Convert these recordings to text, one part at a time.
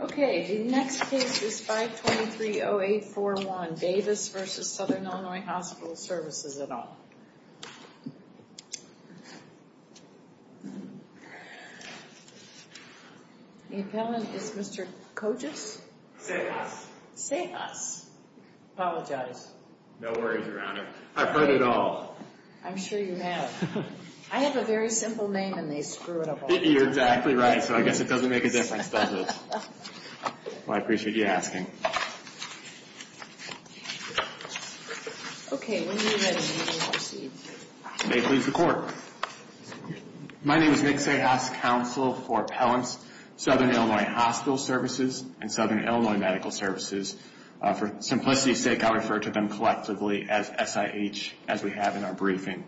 Okay, the next case is 523-0841, Davis v. Southern Illinois Hospital Services et al. The appellant is Mr. Kojic? Sayas. Sayas. Apologize. No worries, Your Honor. I've heard it all. I'm sure you have. I have a very simple name and they screw it up all the time. You're exactly right, so I guess it doesn't make a difference, does it? Well, I appreciate you asking. Okay, when you're ready, please proceed. May it please the Court. My name is Nick Sayas, Counsel for Appellants, Southern Illinois Hospital Services and Southern Illinois Medical Services. For simplicity's sake, I'll refer to them collectively as SIH, as we have in our briefing.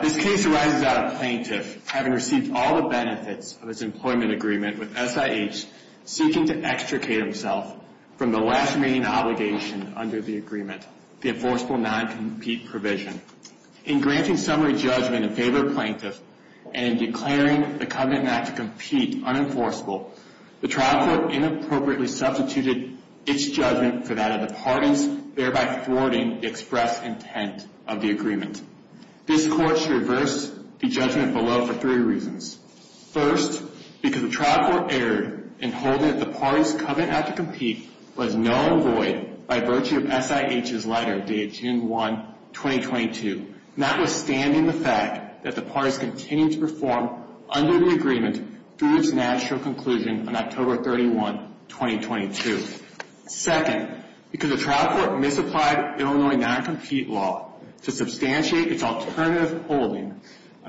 This case arises out of a plaintiff having received all the benefits of his employment agreement with SIH, seeking to extricate himself from the last remaining obligation under the agreement, the enforceable non-compete provision. In granting summary judgment in favor of the plaintiff and in declaring the covenant not to compete unenforceable, the trial court inappropriately substituted its judgment for that of the parties, thereby thwarting the express intent of the agreement. This Court should reverse the judgment below for three reasons. First, because the trial court erred in holding that the parties' covenant not to compete was null and void by virtue of SIH's letter dated June 1, 2022, notwithstanding the fact that the parties continued to perform under the agreement through its natural conclusion on October 31, 2022. Second, because the trial court misapplied Illinois non-compete law to substantiate its alternative holding,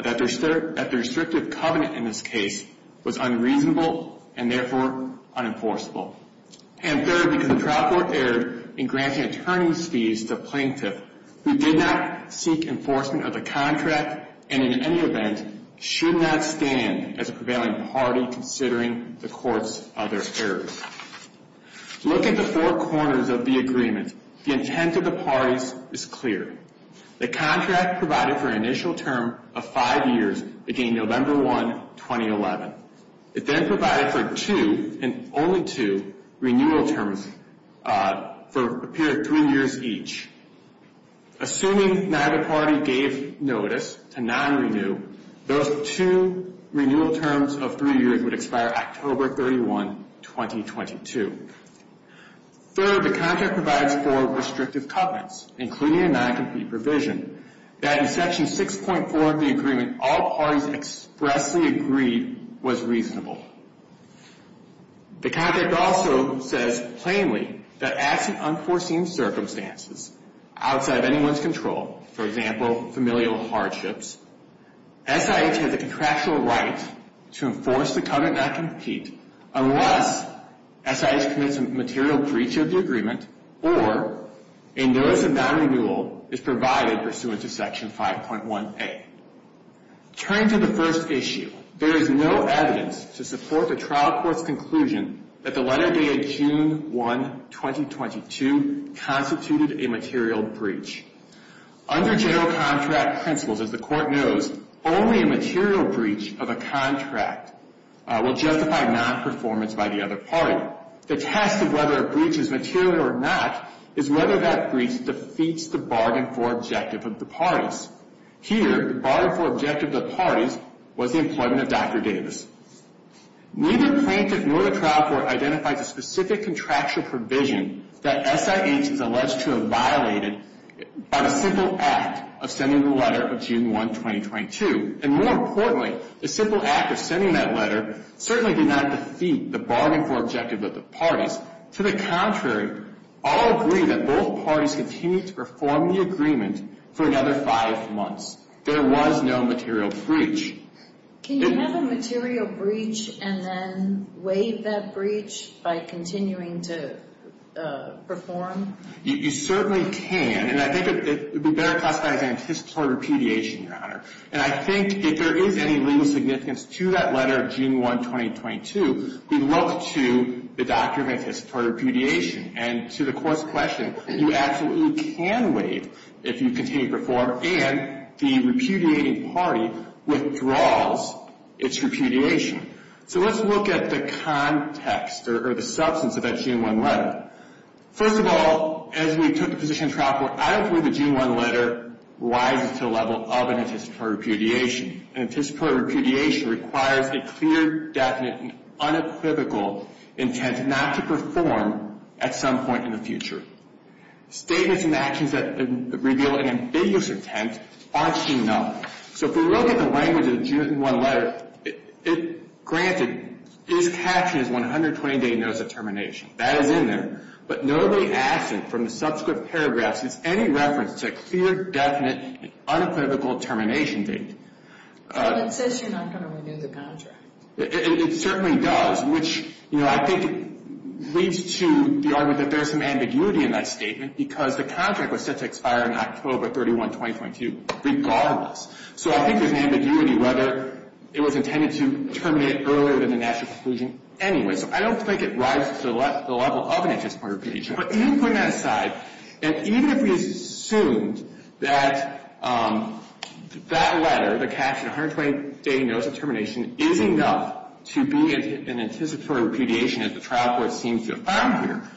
that the restrictive covenant in this case was unreasonable and therefore unenforceable. And third, because the trial court erred in granting attorneys' fees to plaintiffs who did not seek enforcement of the contract and, in any event, should not stand as a prevailing party considering the Court's other errors. Look at the four corners of the agreement. The intent of the parties is clear. The contract provided for an initial term of five years beginning November 1, 2011. It then provided for two, and only two, renewal terms for a period of three years each. Assuming neither party gave notice to non-renew, those two renewal terms of three years would expire October 31, 2022. Third, the contract provides for restrictive covenants, including a non-compete provision, that in Section 6.4 of the agreement all parties expressly agreed was reasonable. The contract also says plainly that, as in unforeseen circumstances, outside of anyone's control, for example, familial hardships, SIH has a contractual right to enforce the covenant of non-compete unless SIH commits a material breach of the agreement or a notice of non-renewal is provided pursuant to Section 5.1a. Turning to the first issue, there is no evidence to support the trial court's conclusion that the letter dated June 1, 2022 constituted a material breach. Under general contract principles, as the Court knows, only a material breach of a contract will justify non-performance by the other party. The test of whether a breach is material or not is whether that breach defeats the bargain for objective of the parties. Here, the bargain for objective of the parties was the employment of Dr. Davis. Neither plaintiff nor the trial court identified the specific contractual provision that SIH is alleged to have violated on a simple act of sending the letter of June 1, 2022. And more importantly, the simple act of sending that letter certainly did not defeat the bargain for objective of the parties. To the contrary, I'll agree that both parties continued to perform the agreement for another five months. There was no material breach. Can you have a material breach and then waive that breach by continuing to perform? You certainly can. And I think it would be better classified as anticipatory repudiation, Your Honor. And I think if there is any legal significance to that letter of June 1, 2022, we look to the document for repudiation. And to the Court's question, you absolutely can waive if you continue to perform, and the repudiating party withdraws its repudiation. So let's look at the context or the substance of that June 1 letter. First of all, as we took the position of trial court, I don't believe the June 1 letter rises to the level of an anticipatory repudiation. An anticipatory repudiation requires a clear, definite, and unequivocal intent not to perform at some point in the future. Statements and actions that reveal an ambiguous intent aren't enough. So if we look at the language of the June 1 letter, granted, it is captioned as 120-day notice of termination. That is in there. But notably absent from the subscript paragraphs is any reference to a clear, definite, and unequivocal termination date. Well, it says you're not going to renew the contract. It certainly does, which, you know, I think leads to the argument that there's some ambiguity in that statement because the contract was set to expire in October 31, 2022, regardless. So I think there's an ambiguity whether it was intended to terminate earlier than the national conclusion anyway. So I don't think it rises to the level of an anticipatory repudiation. But even putting that aside, and even if we assumed that that letter, the captioned 120-day notice of termination, is enough to be an anticipatory repudiation as the trial court seems to have found here,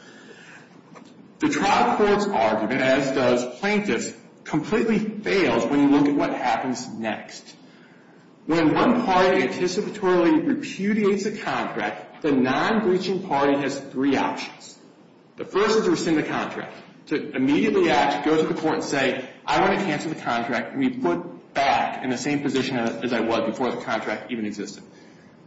the trial court's argument, as does plaintiff's, completely fails when you look at what happens next. When one party anticipatorily repudiates a contract, the non-breaching party has three options. The first is to rescind the contract, to immediately act, go to the court and say, I want to cancel the contract and be put back in the same position as I was before the contract even existed.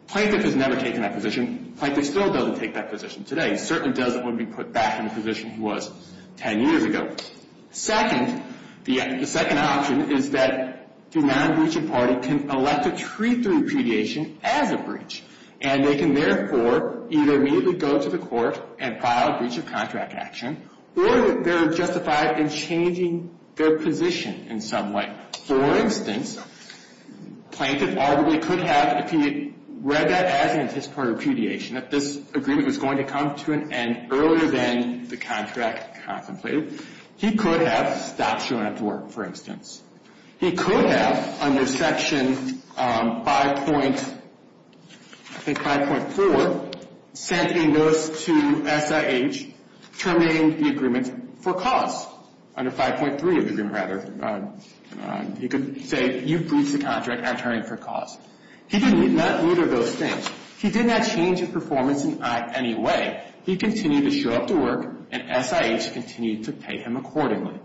Plaintiff has never taken that position. Plaintiff still doesn't take that position today. He certainly doesn't when we put back in the position he was 10 years ago. Second, the second option is that the non-breaching party can elect to treat the repudiation as a breach. And they can, therefore, either immediately go to the court and file a breach of contract action, or they're justified in changing their position in some way. For instance, plaintiff arguably could have, if he read that as an anticipatory repudiation, that this agreement was going to come to an end earlier than the contract contemplated, he could have stopped showing up to work, for instance. He could have, under Section 5.4, sent a notice to SIH terminating the agreement for cause. Under 5.3 of the agreement, rather, he could say, you've breached the contract, I'm turning it for cause. He did not do either of those things. He did not change his performance in any way. He continued to show up to work, and SIH continued to pay him accordingly.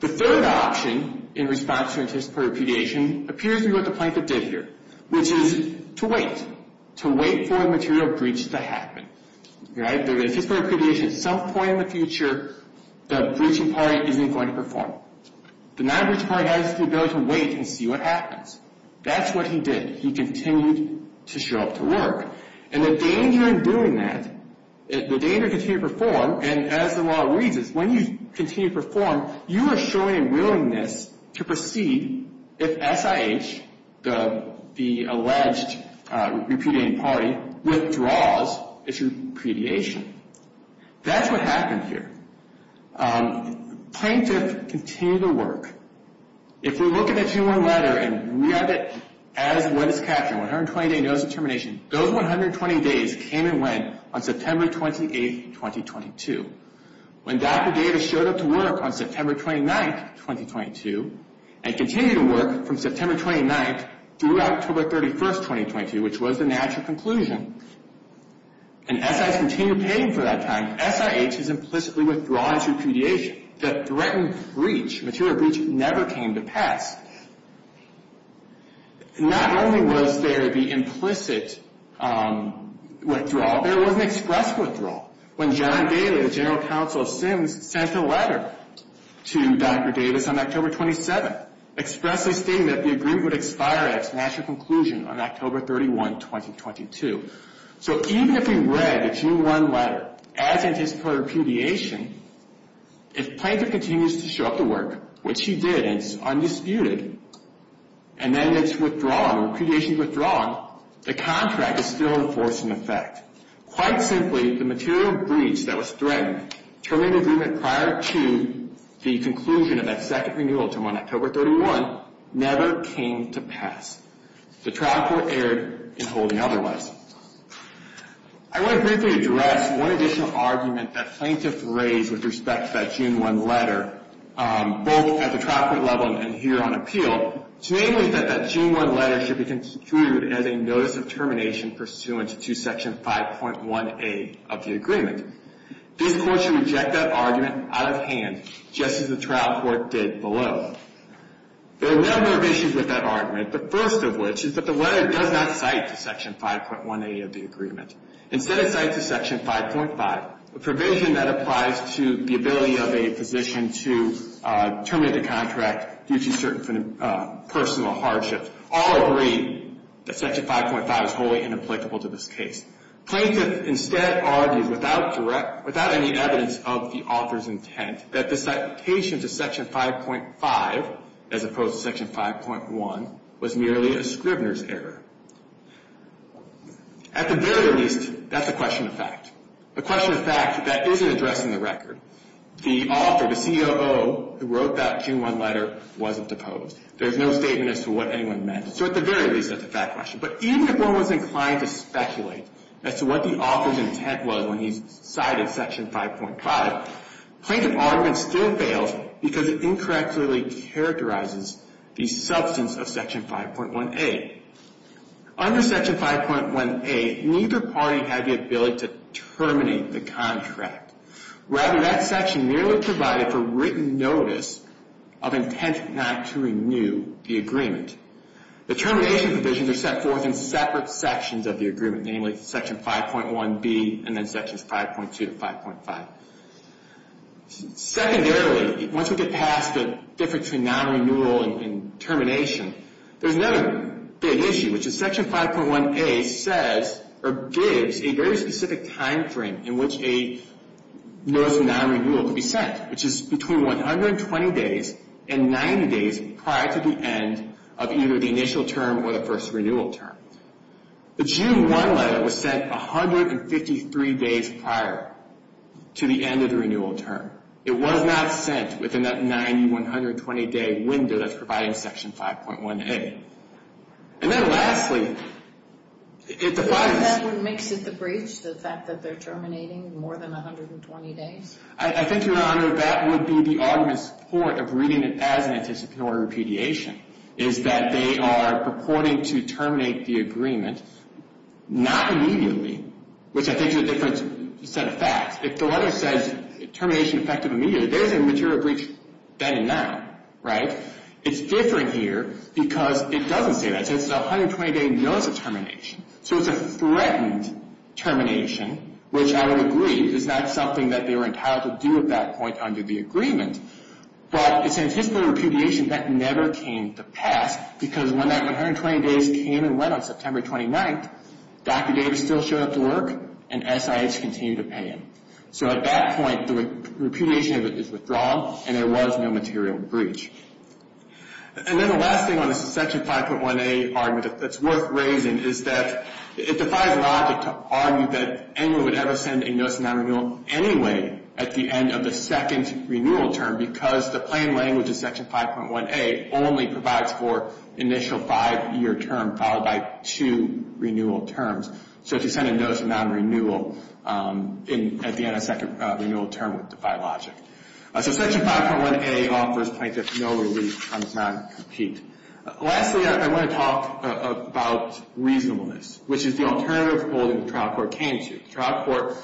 The third option in response to anticipatory repudiation appears to be what the plaintiff did here, which is to wait, to wait for a material breach to happen. If there is a repudiation at some point in the future, the breaching party isn't going to perform. The non-breaching party has the ability to wait and see what happens. That's what he did. He continued to show up to work. And the danger in doing that, the danger of continuing to perform, and as the law reads, is when you continue to perform, you are showing a willingness to proceed if SIH, the alleged repudiating party, withdraws its repudiation. That's what happened here. Plaintiff continued to work. If we look at the 2-1 letter and read it as it is captioned, 120-day notice of termination, those 120 days came and went on September 28th, 2022. When Dr. Davis showed up to work on September 29th, 2022, and continued to work from September 29th through October 31st, 2022, which was the natural conclusion, and SIH continued paying for that time, SIH has implicitly withdrawn its repudiation. The threatened breach, material breach, never came to pass. Not only was there the implicit withdrawal, there was an express withdrawal. When John Daly, the general counsel of SIMS, sent a letter to Dr. Davis on October 27th, expressly stating that the agreement would expire at its natural conclusion on October 31, 2022. So even if we read the 2-1 letter as it is per repudiation, if Plaintiff continues to show up to work, which he did, and it's undisputed, and then it's withdrawn, or repudiation's withdrawn, the contract is still in force in effect. Quite simply, the material breach that was threatened, terminated agreement prior to the conclusion of that second renewal term on October 31, never came to pass. The trial court erred in holding otherwise. I want to briefly address one additional argument that Plaintiff raised with respect to that 2-1 letter, both at the trial court level and here on appeal, namely that that 2-1 letter should be concluded as a notice of termination pursuant to Section 5.1A of the agreement. This court should reject that argument out of hand, just as the trial court did below. There are a number of issues with that argument. The first of which is that the letter does not cite Section 5.1A of the agreement. Instead, it cites a Section 5.5, a provision that applies to the ability of a physician to terminate the contract due to certain personal hardships. All agree that Section 5.5 is wholly inapplicable to this case. Plaintiff instead argues without any evidence of the author's intent that the citation to Section 5.5, as opposed to Section 5.1, was merely a scrivener's error. At the very least, that's a question of fact. A question of fact that isn't addressed in the record. The author, the COO who wrote that 2-1 letter, wasn't deposed. There's no statement as to what anyone meant. So at the very least, that's a fact question. But even if one was inclined to speculate as to what the author's intent was when he cited Section 5.5, plaintiff's argument still fails because it incorrectly characterizes the substance of Section 5.1A. Under Section 5.1A, neither party had the ability to terminate the contract. Rather, that section merely provided for written notice of intent not to renew the agreement. Namely, Section 5.1B and then Sections 5.2 to 5.5. Secondarily, once we get past the difference between non-renewal and termination, there's another big issue, which is Section 5.1A says, or gives, a very specific time frame in which a notice of non-renewal can be sent, which is between 120 days and 90 days prior to the end of either the initial term or the first renewal term. The June 1 letter was sent 153 days prior to the end of the renewal term. It was not sent within that 90, 120-day window that's providing Section 5.1A. And then lastly, it defines... That would make it the breach, the fact that they're terminating more than 120 days? I think, Your Honor, that would be the argument's support of reading it as an anticipatory repudiation, is that they are purporting to terminate the agreement not immediately, which I think is a different set of facts. If the letter says termination effective immediately, there's an immaterial breach then and now, right? It's different here because it doesn't say that. It says 120-day notice of termination. So it's a threatened termination, which I would agree is not something that they were entitled to do at that point under the agreement. But it's an anticipatory repudiation that never came to pass because when that 120 days came and went on September 29th, Dr. Davis still showed up to work and SIH continued to pay him. So at that point, the repudiation of it is withdrawn and there was no material breach. And then the last thing on the Section 5.1A argument that's worth raising is that it defies logic to argue that anyone would ever send a notice of non-renewal anyway at the end of the second renewal term because the plain language of Section 5.1A only provides for initial five-year term followed by two renewal terms. So to send a notice of non-renewal at the end of a second renewal term would defy logic. So Section 5.1A offers plaintiff no relief on non-compete. Lastly, I want to talk about reasonableness, which is the alternative holding the trial court came to. The trial court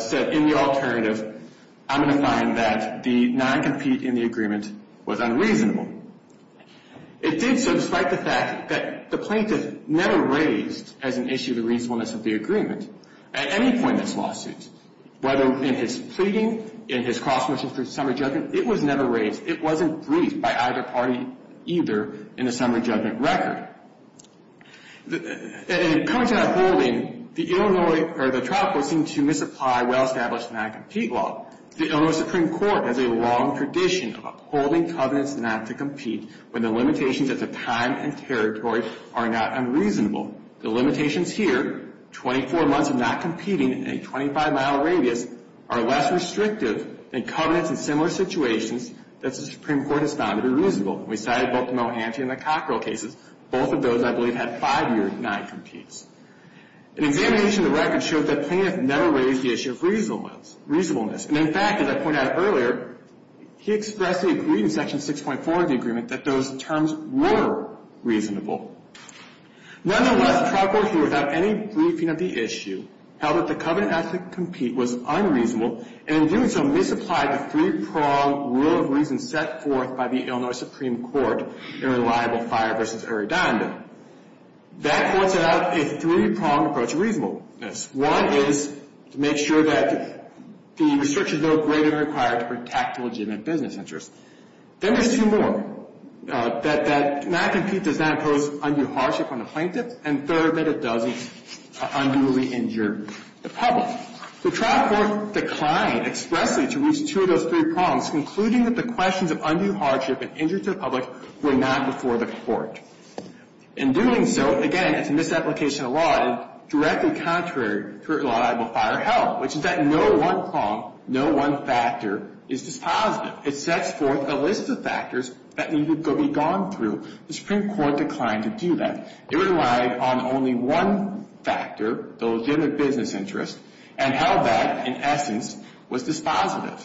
said in the alternative, I'm going to find that the non-compete in the agreement was unreasonable. It did so despite the fact that the plaintiff never raised as an issue the reasonableness of the agreement at any point in this lawsuit, whether in his pleading, in his cross-motion for the summary judgment, it was never raised. It wasn't briefed by either party either in the summary judgment record. In coming to that holding, the trial court seemed to misapply well-established non-compete law. The Illinois Supreme Court has a long tradition of holding covenants not to compete when the limitations at the time and territory are not unreasonable. The limitations here, 24 months of not competing in a 25-mile radius, are less restrictive than covenants in similar situations that the Supreme Court has found to be reasonable. We cited both the Mohanty and the Cockrell cases. Both of those, I believe, had five-year non-competes. An examination of the record showed that the plaintiff never raised the issue of reasonableness. And in fact, as I pointed out earlier, he expressed the agreement in Section 6.4 of the agreement that those terms were reasonable. Nonetheless, the trial court here, without any briefing of the issue, held that the covenant not to compete was unreasonable, and in doing so, misapplied the three-pronged rule of reason set forth by the Illinois Supreme Court in Reliable Fire v. Eridanda. That points out a three-pronged approach to reasonableness. One is to make sure that the restrictions are greater than required to protect legitimate business interests. Then there's two more, that not to compete does not impose undue hardship on the plaintiff, and third, that it doesn't unduly injure the public. The trial court declined expressly to reach two of those three prongs, concluding that the questions of undue hardship and injury to the public were not before the court. In doing so, again, it's a misapplication of law and directly contrary to Reliable Fire help, which is that no one prong, no one factor is dispositive. It sets forth a list of factors that need to be gone through. The Supreme Court declined to do that. It relied on only one factor, the legitimate business interest, and held that, in essence, was dispositive.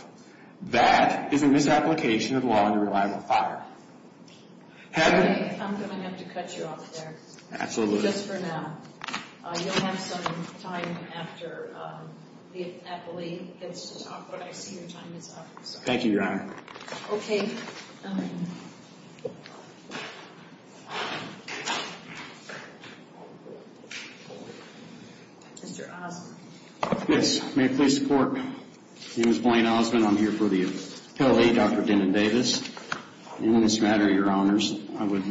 That is a misapplication of law under Reliable Fire. Have we... I'm going to have to cut you off there. Absolutely. Just for now. You'll have some time after the appellee gets to talk, but I see your time is up. Thank you, Your Honor. Okay. Mr. Osmond. Yes. May I please support Ms. Blaine Osmond? I'm here for the appellee, Dr. Denon Davis. In this matter, Your Honors, I would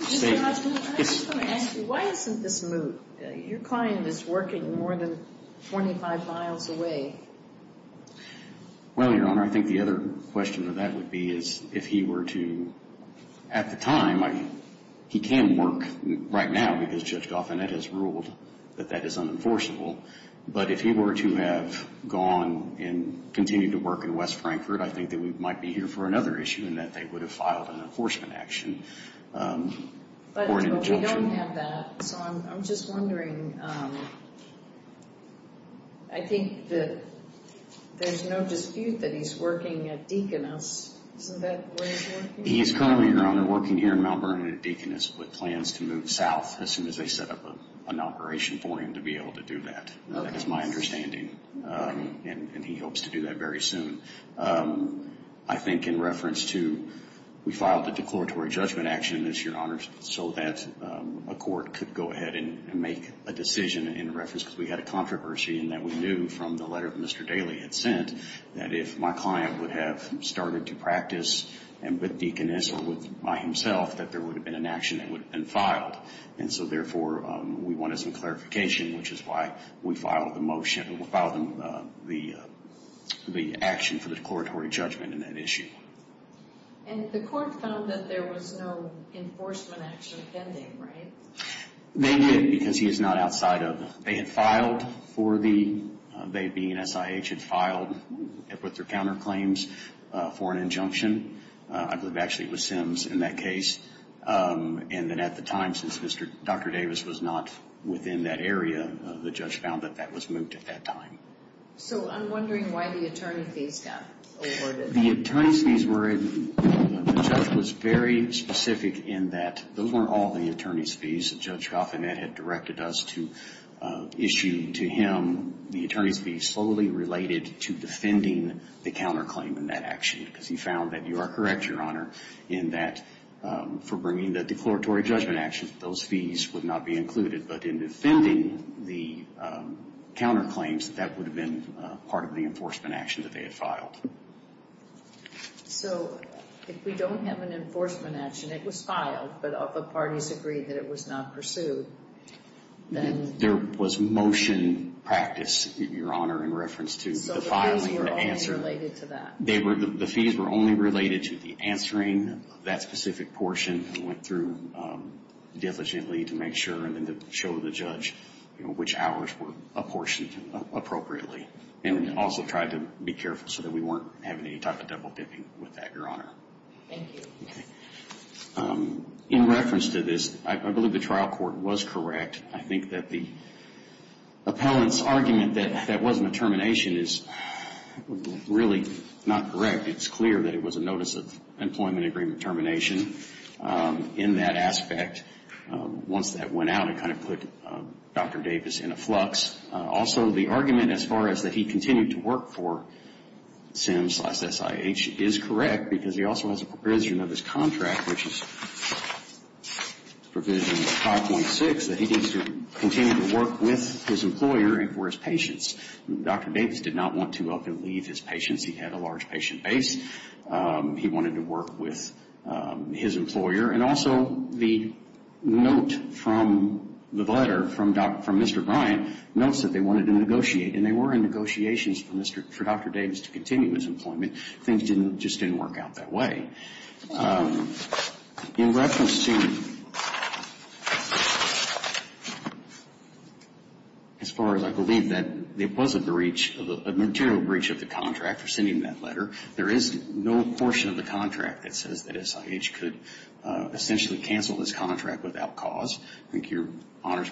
say... Mr. Osmond, I just want to ask you, why isn't this moot? Your client is working more than 25 miles away. Well, Your Honor, I think the other question that that would be is if he were to... At the time, he can work right now because Judge Goffinett has ruled that that is unenforceable. But if he were to have gone and continued to work in West Frankfurt, I think that we might be here for another issue in that they would have filed an enforcement action. But we don't have that, so I'm just wondering. I think that there's no dispute that he's working at Deaconess. Isn't that where he's working? He is currently, Your Honor, working here in Mount Vernon at Deaconess with plans to move south as soon as they set up an operation for him to be able to do that. That is my understanding. And he hopes to do that very soon. I think in reference to we filed a declaratory judgment action this year, Your Honors, so that a court could go ahead and make a decision in reference because we had a controversy and that we knew from the letter that Mr. Daley had sent that if my client would have started to practice and with Deaconess or by himself that there would have been an action that would have been filed. And so, therefore, we wanted some clarification, which is why we filed the motion, filed the action for the declaratory judgment in that issue. And the court found that there was no enforcement action pending, right? They did because he is not outside of it. They had filed for the, they being SIH, had filed with their counterclaims for an injunction. I believe actually it was Sims in that case. And then at the time, since Dr. Davis was not within that area, the judge found that that was moot at that time. So I'm wondering why the attorney fees got awarded. The attorney's fees were, the judge was very specific in that those weren't all the attorney's fees. Judge Coffin had directed us to issue to him the attorney's fees solely related to defending the counterclaim in that action because he found that you are correct, Your Honor, in that for bringing the declaratory judgment action, those fees would not be included. But in defending the counterclaims, that would have been part of the enforcement action that they had filed. So if we don't have an enforcement action, it was filed, but other parties agreed that it was not pursued, then? There was motion practice, Your Honor, in reference to the filing of the answer. So the fees were only related to that? They were, the fees were only related to the answering that specific portion. We went through diligently to make sure and then to show the judge, you know, which hours were apportioned appropriately. And we also tried to be careful so that we weren't having any type of double-dipping with that, Your Honor. Thank you. Okay. In reference to this, I believe the trial court was correct. I think that the appellant's argument that that wasn't a termination is really not correct. It's clear that it was a notice of employment agreement termination in that aspect. Once that went out, it kind of put Dr. Davis in a flux. Also, the argument as far as that he continued to work for SIMS slash SIH is correct because he also has a provision of his contract, which is provision 5.6, that he needs to continue to work with his employer and for his patients. Dr. Davis did not want to up and leave his patients. He had a large patient base. He wanted to work with his employer. And also the note from the letter from Mr. Bryant notes that they wanted to negotiate, and they were in negotiations for Dr. Davis to continue his employment. Things just didn't work out that way. In reference to as far as I believe that there was a breach, a material breach of the contract for sending that letter, there is no portion of the contract that says that SIH could essentially cancel this contract without cause. I think Your Honors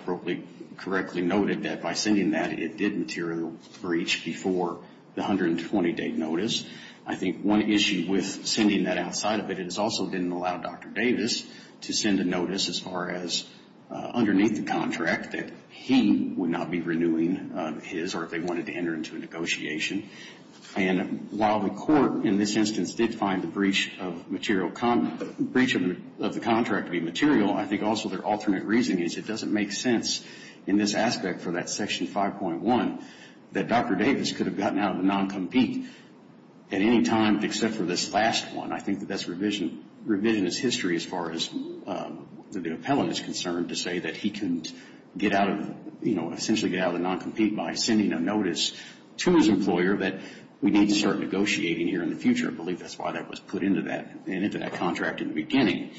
correctly noted that by sending that, it did material a breach before the 120-day notice. I think one issue with sending that outside of it is it also didn't allow Dr. Davis to send a notice as far as underneath the contract that he would not be renewing his or if they wanted to enter into a negotiation. And while the court in this instance did find the breach of the contract to be material, I think also their alternate reasoning is it doesn't make sense in this aspect for that Section 5.1 that Dr. Davis could have gotten out of the non-compete at any time except for this last one. I think that that's revisionist history as far as the appellant is concerned to say that he couldn't get out of, you know, essentially get out of the non-compete by sending a notice to his employer that we need to start negotiating here in the future. I believe that's why that was put into that contract in the beginning.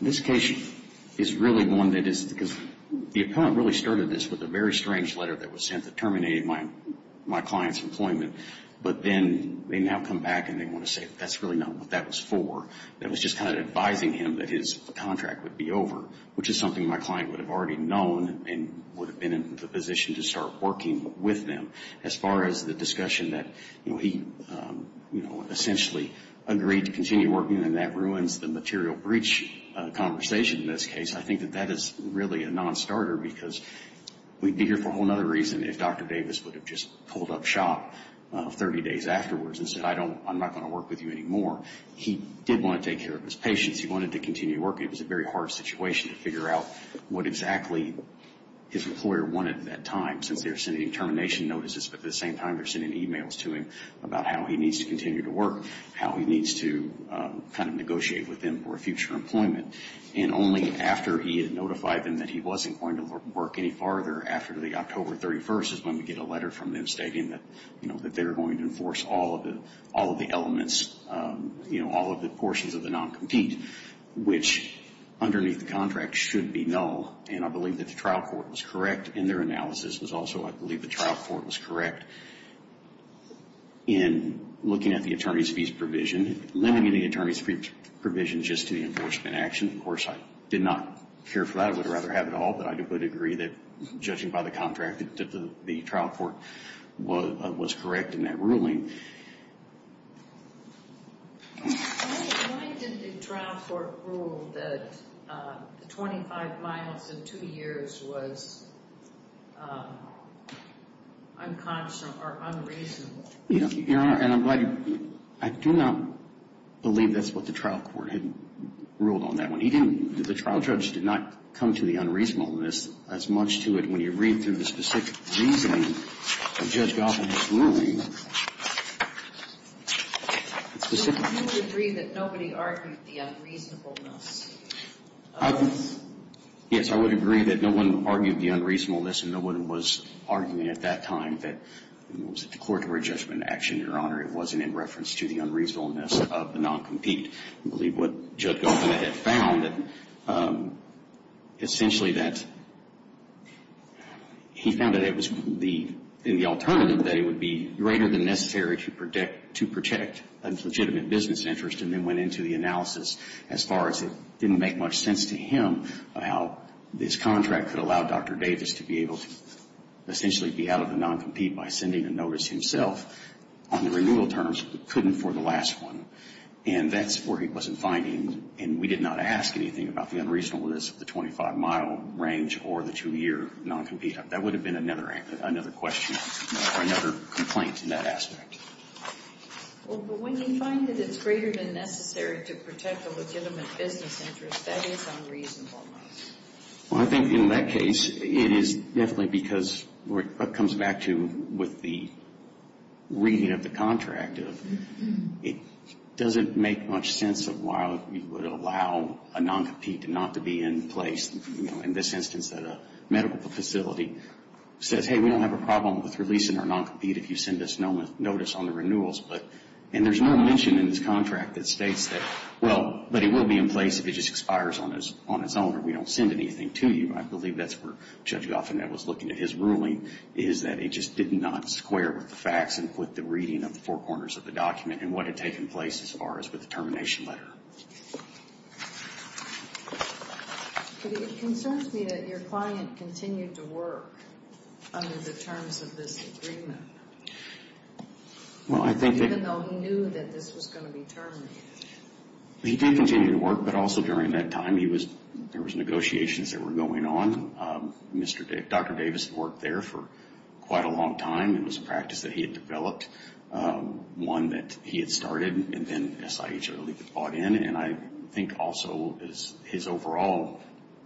This case is really one that is because the appellant really started this with a very strange letter that was sent that terminated my client's employment. But then they now come back and they want to say that's really not what that was for. That was just kind of advising him that his contract would be over, which is something my client would have already known and would have been in the position to start working with them. As far as the discussion that, you know, he essentially agreed to continue working and that ruins the material breach conversation in this case, I think that that is really a non-starter because we'd be here for a whole other reason if Dr. Davis would have just pulled up shop 30 days afterwards and said I'm not going to work with you anymore. He did want to take care of his patients. He wanted to continue working. It was a very hard situation to figure out what exactly his employer wanted at that time since they were sending termination notices, but at the same time they were sending emails to him about how he needs to continue to work, how he needs to kind of negotiate with them for future employment. And only after he had notified them that he wasn't going to work any farther after the October 31st is when we get a letter from them stating that, you know, that they're going to enforce all of the elements, you know, all of the portions of the non-compete, which underneath the contract should be null. And I believe that the trial court was correct in their analysis. It was also I believe the trial court was correct in looking at the attorney's fees provision, limiting the attorney's fees provision just to the enforcement action. Of course, I did not care for that. I would rather have it all, but I would agree that judging by the contract that the trial court was correct in that ruling. Why did the trial court rule that the 25 miles in two years was unconscionable or unreasonable? Your Honor, and I'm glad you – I do not believe that's what the trial court had ruled on that one. He didn't – the trial judge did not come to the unreasonableness as much to it when you read through the specific reasoning of Judge Goffin's ruling. So you would agree that nobody argued the unreasonableness? Yes, I would agree that no one argued the unreasonableness and no one was arguing at that time that it was a court-ordered judgment action, Your Honor. It wasn't in reference to the unreasonableness of the non-compete. I believe what Judge Goffin had found essentially that he found that it was the – in the alternative that it would be greater than necessary to protect a legitimate business interest and then went into the analysis as far as it didn't make much sense to him how this by sending a notice himself on the renewal terms but couldn't for the last one. And that's where he wasn't finding – and we did not ask anything about the unreasonableness of the 25-mile range or the two-year non-compete. That would have been another question or another complaint in that aspect. Well, but when you find that it's greater than necessary to protect a legitimate business interest, that is unreasonable. Well, I think in that case, it is definitely because what comes back to with the reading of the contract, it doesn't make much sense of why you would allow a non-compete not to be in place. In this instance, a medical facility says, hey, we don't have a problem with releasing our non-compete if you send us notice on the renewals. And there's no mention in this contract that states that, well, but it will be in place if it just expires on its own or we don't send anything to you. I believe that's where Judge Goffin that was looking at his ruling is that it just did not square with the facts and put the reading of the four corners of the document and what had taken place as far as with the termination letter. But it concerns me that your client continued to work under the terms of this agreement. Well, I think that – Even though he knew that this was going to be terminated. He did continue to work. But also during that time, there was negotiations that were going on. Dr. Davis worked there for quite a long time. It was a practice that he had developed, one that he had started, and then SIH early bought in. And I think also his overall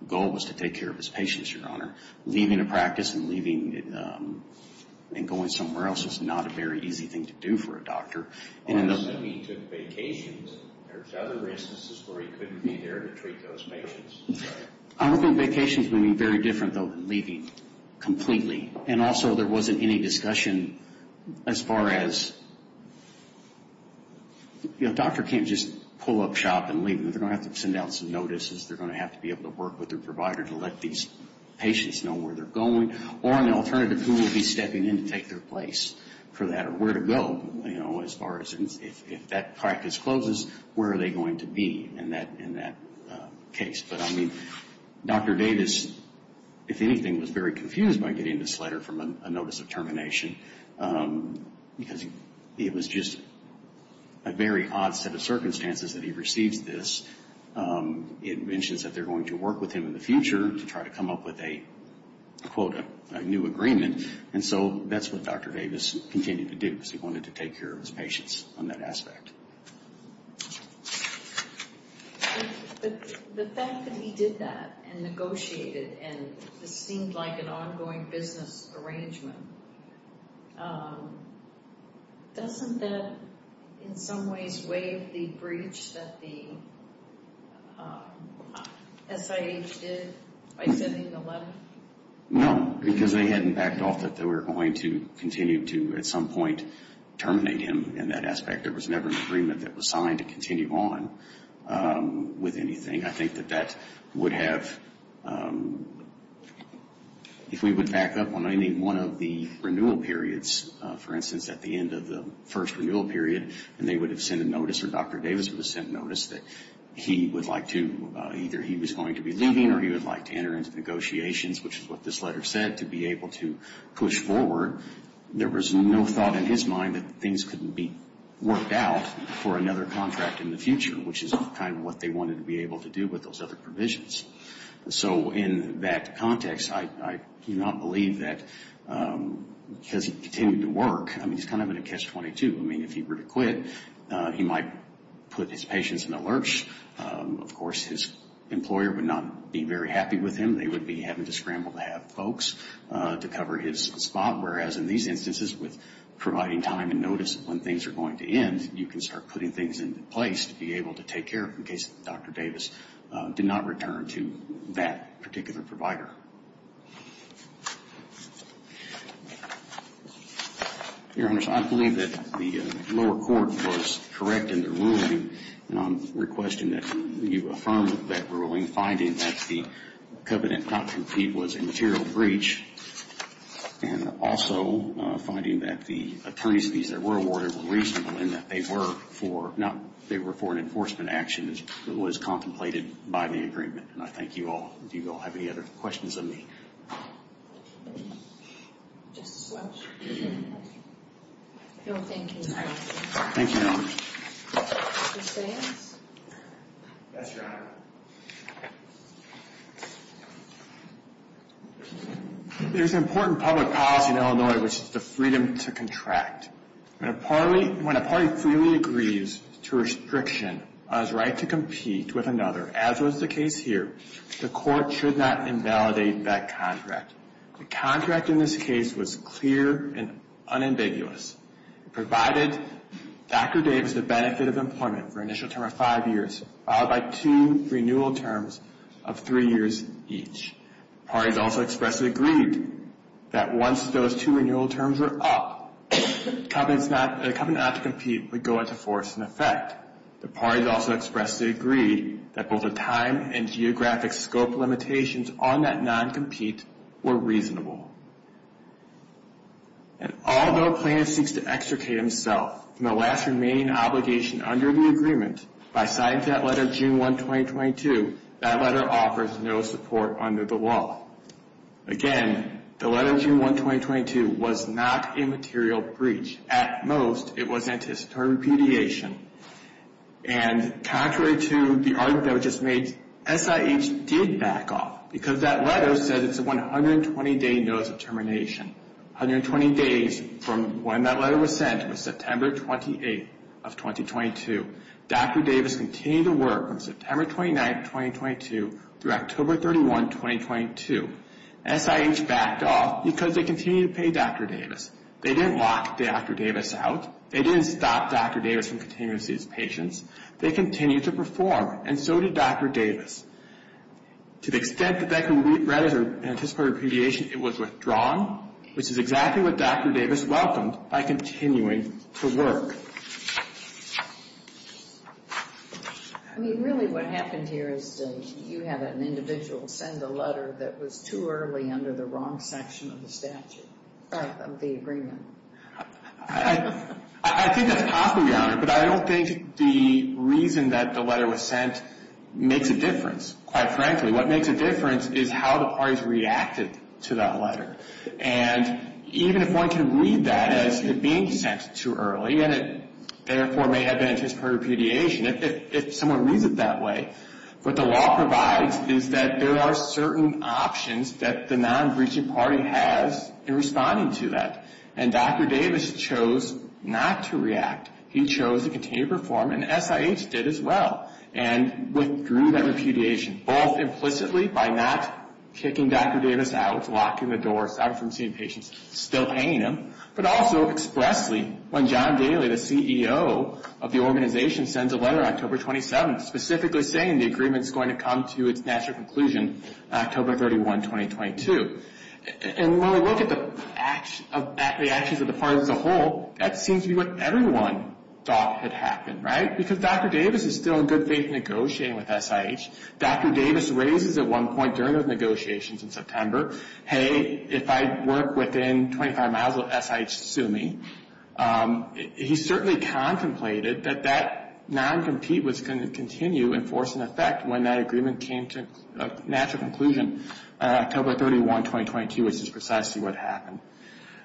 goal was to take care of his patients, Your Honor. Leaving a practice and going somewhere else is not a very easy thing to do for a doctor. Unless he took vacations. There's other instances where he couldn't be there to treat those patients. I don't think vacations would be very different, though, than leaving completely. And also there wasn't any discussion as far as – a doctor can't just pull up shop and leave. They're going to have to send out some notices. They're going to have to be able to work with their provider to let these patients know where they're going. Or an alternative, who will be stepping in to take their place for that or where to go, you know, as far as if that practice closes, where are they going to be in that case. But, I mean, Dr. Davis, if anything, was very confused by getting this letter from a notice of termination because it was just a very odd set of circumstances that he receives this. It mentions that they're going to work with him in the future to try to come up with a, quote, a new agreement. And so that's what Dr. Davis continued to do because he wanted to take care of his patients on that aspect. But the fact that he did that and negotiated and this seemed like an ongoing business arrangement, doesn't that in some ways waive the breach that the SIH did by sending the letter? No, because they hadn't backed off that they were going to continue to, at some point, terminate him in that aspect. There was never an agreement that was signed to continue on with anything. I think that that would have, if we would back up on any one of the renewal periods, for instance, at the end of the first renewal period, and they would have sent a notice or Dr. Davis would have sent a notice or he would like to enter into negotiations, which is what this letter said, to be able to push forward. There was no thought in his mind that things couldn't be worked out for another contract in the future, which is kind of what they wanted to be able to do with those other provisions. So in that context, I do not believe that because he continued to work, I mean, he's kind of in a catch-22. I mean, if he were to quit, he might put his patients in a lurch. Of course, his employer would not be very happy with him. They would be having to scramble to have folks to cover his spot, whereas in these instances, with providing time and notice when things are going to end, you can start putting things into place to be able to take care of it in case Dr. Davis did not return to that particular provider. Your Honors, I believe that the lower court was correct in their ruling, and I'm requesting that you affirm that ruling, finding that the covenant not to compete was a material breach, and also finding that the attorney's fees that were awarded were reasonable and that they were for an enforcement action that was contemplated by the agreement. And I thank you all. Do you all have any other questions of me? Just as well. No, thank you. Thank you, Your Honors. Mr. Sands? Yes, Your Honor. There's an important public policy in Illinois, which is the freedom to contract. When a party freely agrees to restriction on its right to compete with another, as was the case here, the court should not invalidate that contract. The contract in this case was clear and unambiguous. It provided Dr. Davis the benefit of employment for an initial term of five years, followed by two renewal terms of three years each. The parties also expressly agreed that once those two renewal terms were up, the covenant not to compete would go into force and effect. The parties also expressly agreed that both the time and geographic scope limitations on that non-compete were reasonable. And although a plaintiff seeks to extricate himself from the last remaining obligation under the agreement, by signing to that letter June 1, 2022, that letter offers no support under the law. Again, the letter June 1, 2022, was not a material breach. At most, it was anticipatory repudiation. And contrary to the argument that was just made, SIH did back off because that letter said it's a 120-day notice of termination. 120 days from when that letter was sent was September 28, 2022. Dr. Davis continued to work from September 29, 2022, through October 31, 2022. SIH backed off because they continued to pay Dr. Davis. They didn't lock Dr. Davis out. They didn't stop Dr. Davis from continuing to see his patients. They continued to perform, and so did Dr. Davis. To the extent that that can be read as an anticipatory repudiation, it was withdrawn, which is exactly what Dr. Davis welcomed by continuing to work. I mean, really what happened here is you had an individual send a letter that was too early under the wrong section of the statute, of the agreement. I think that's possible, Your Honor, but I don't think the reason that the letter was sent makes a difference. Quite frankly, what makes a difference is how the parties reacted to that letter. And even if one can read that as it being sent too early and it therefore may have been anticipatory repudiation, if someone reads it that way, what the law provides is that there are certain options that the non-breaching party has in responding to that. And Dr. Davis chose not to react. He chose to continue to perform, and SIH did as well, and withdrew that repudiation, both implicitly by not kicking Dr. Davis out, locking the doors, stopping from seeing patients, still paying him, but also expressly when John Daly, the CEO of the organization, sends a letter on October 27th, specifically saying the agreement is going to come to its natural conclusion on October 31, 2022. And when we look at the actions of the parties as a whole, that seems to be what everyone thought had happened, right? Because Dr. Davis is still in good faith negotiating with SIH. Dr. Davis raises at one point during those negotiations in September, hey, if I work within 25 miles, will SIH sue me? He certainly contemplated that that non-compete was going to continue and force an effect when that agreement came to a natural conclusion on October 31, 2022, which is precisely what happened.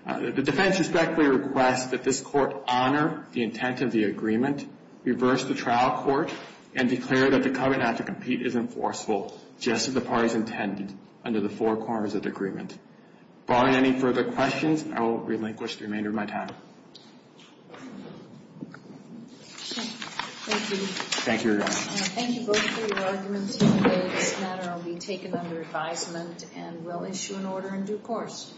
The defense respectfully requests that this court honor the intent of the agreement, reverse the trial court, and declare that the covenant to compete is enforceable, just as the parties intended under the four corners of the agreement. Barring any further questions, I will relinquish the remainder of my time. Thank you. Thank you, Your Honor. Thank you both for your arguments here today. This matter will be taken under advisement and will issue an order in due course.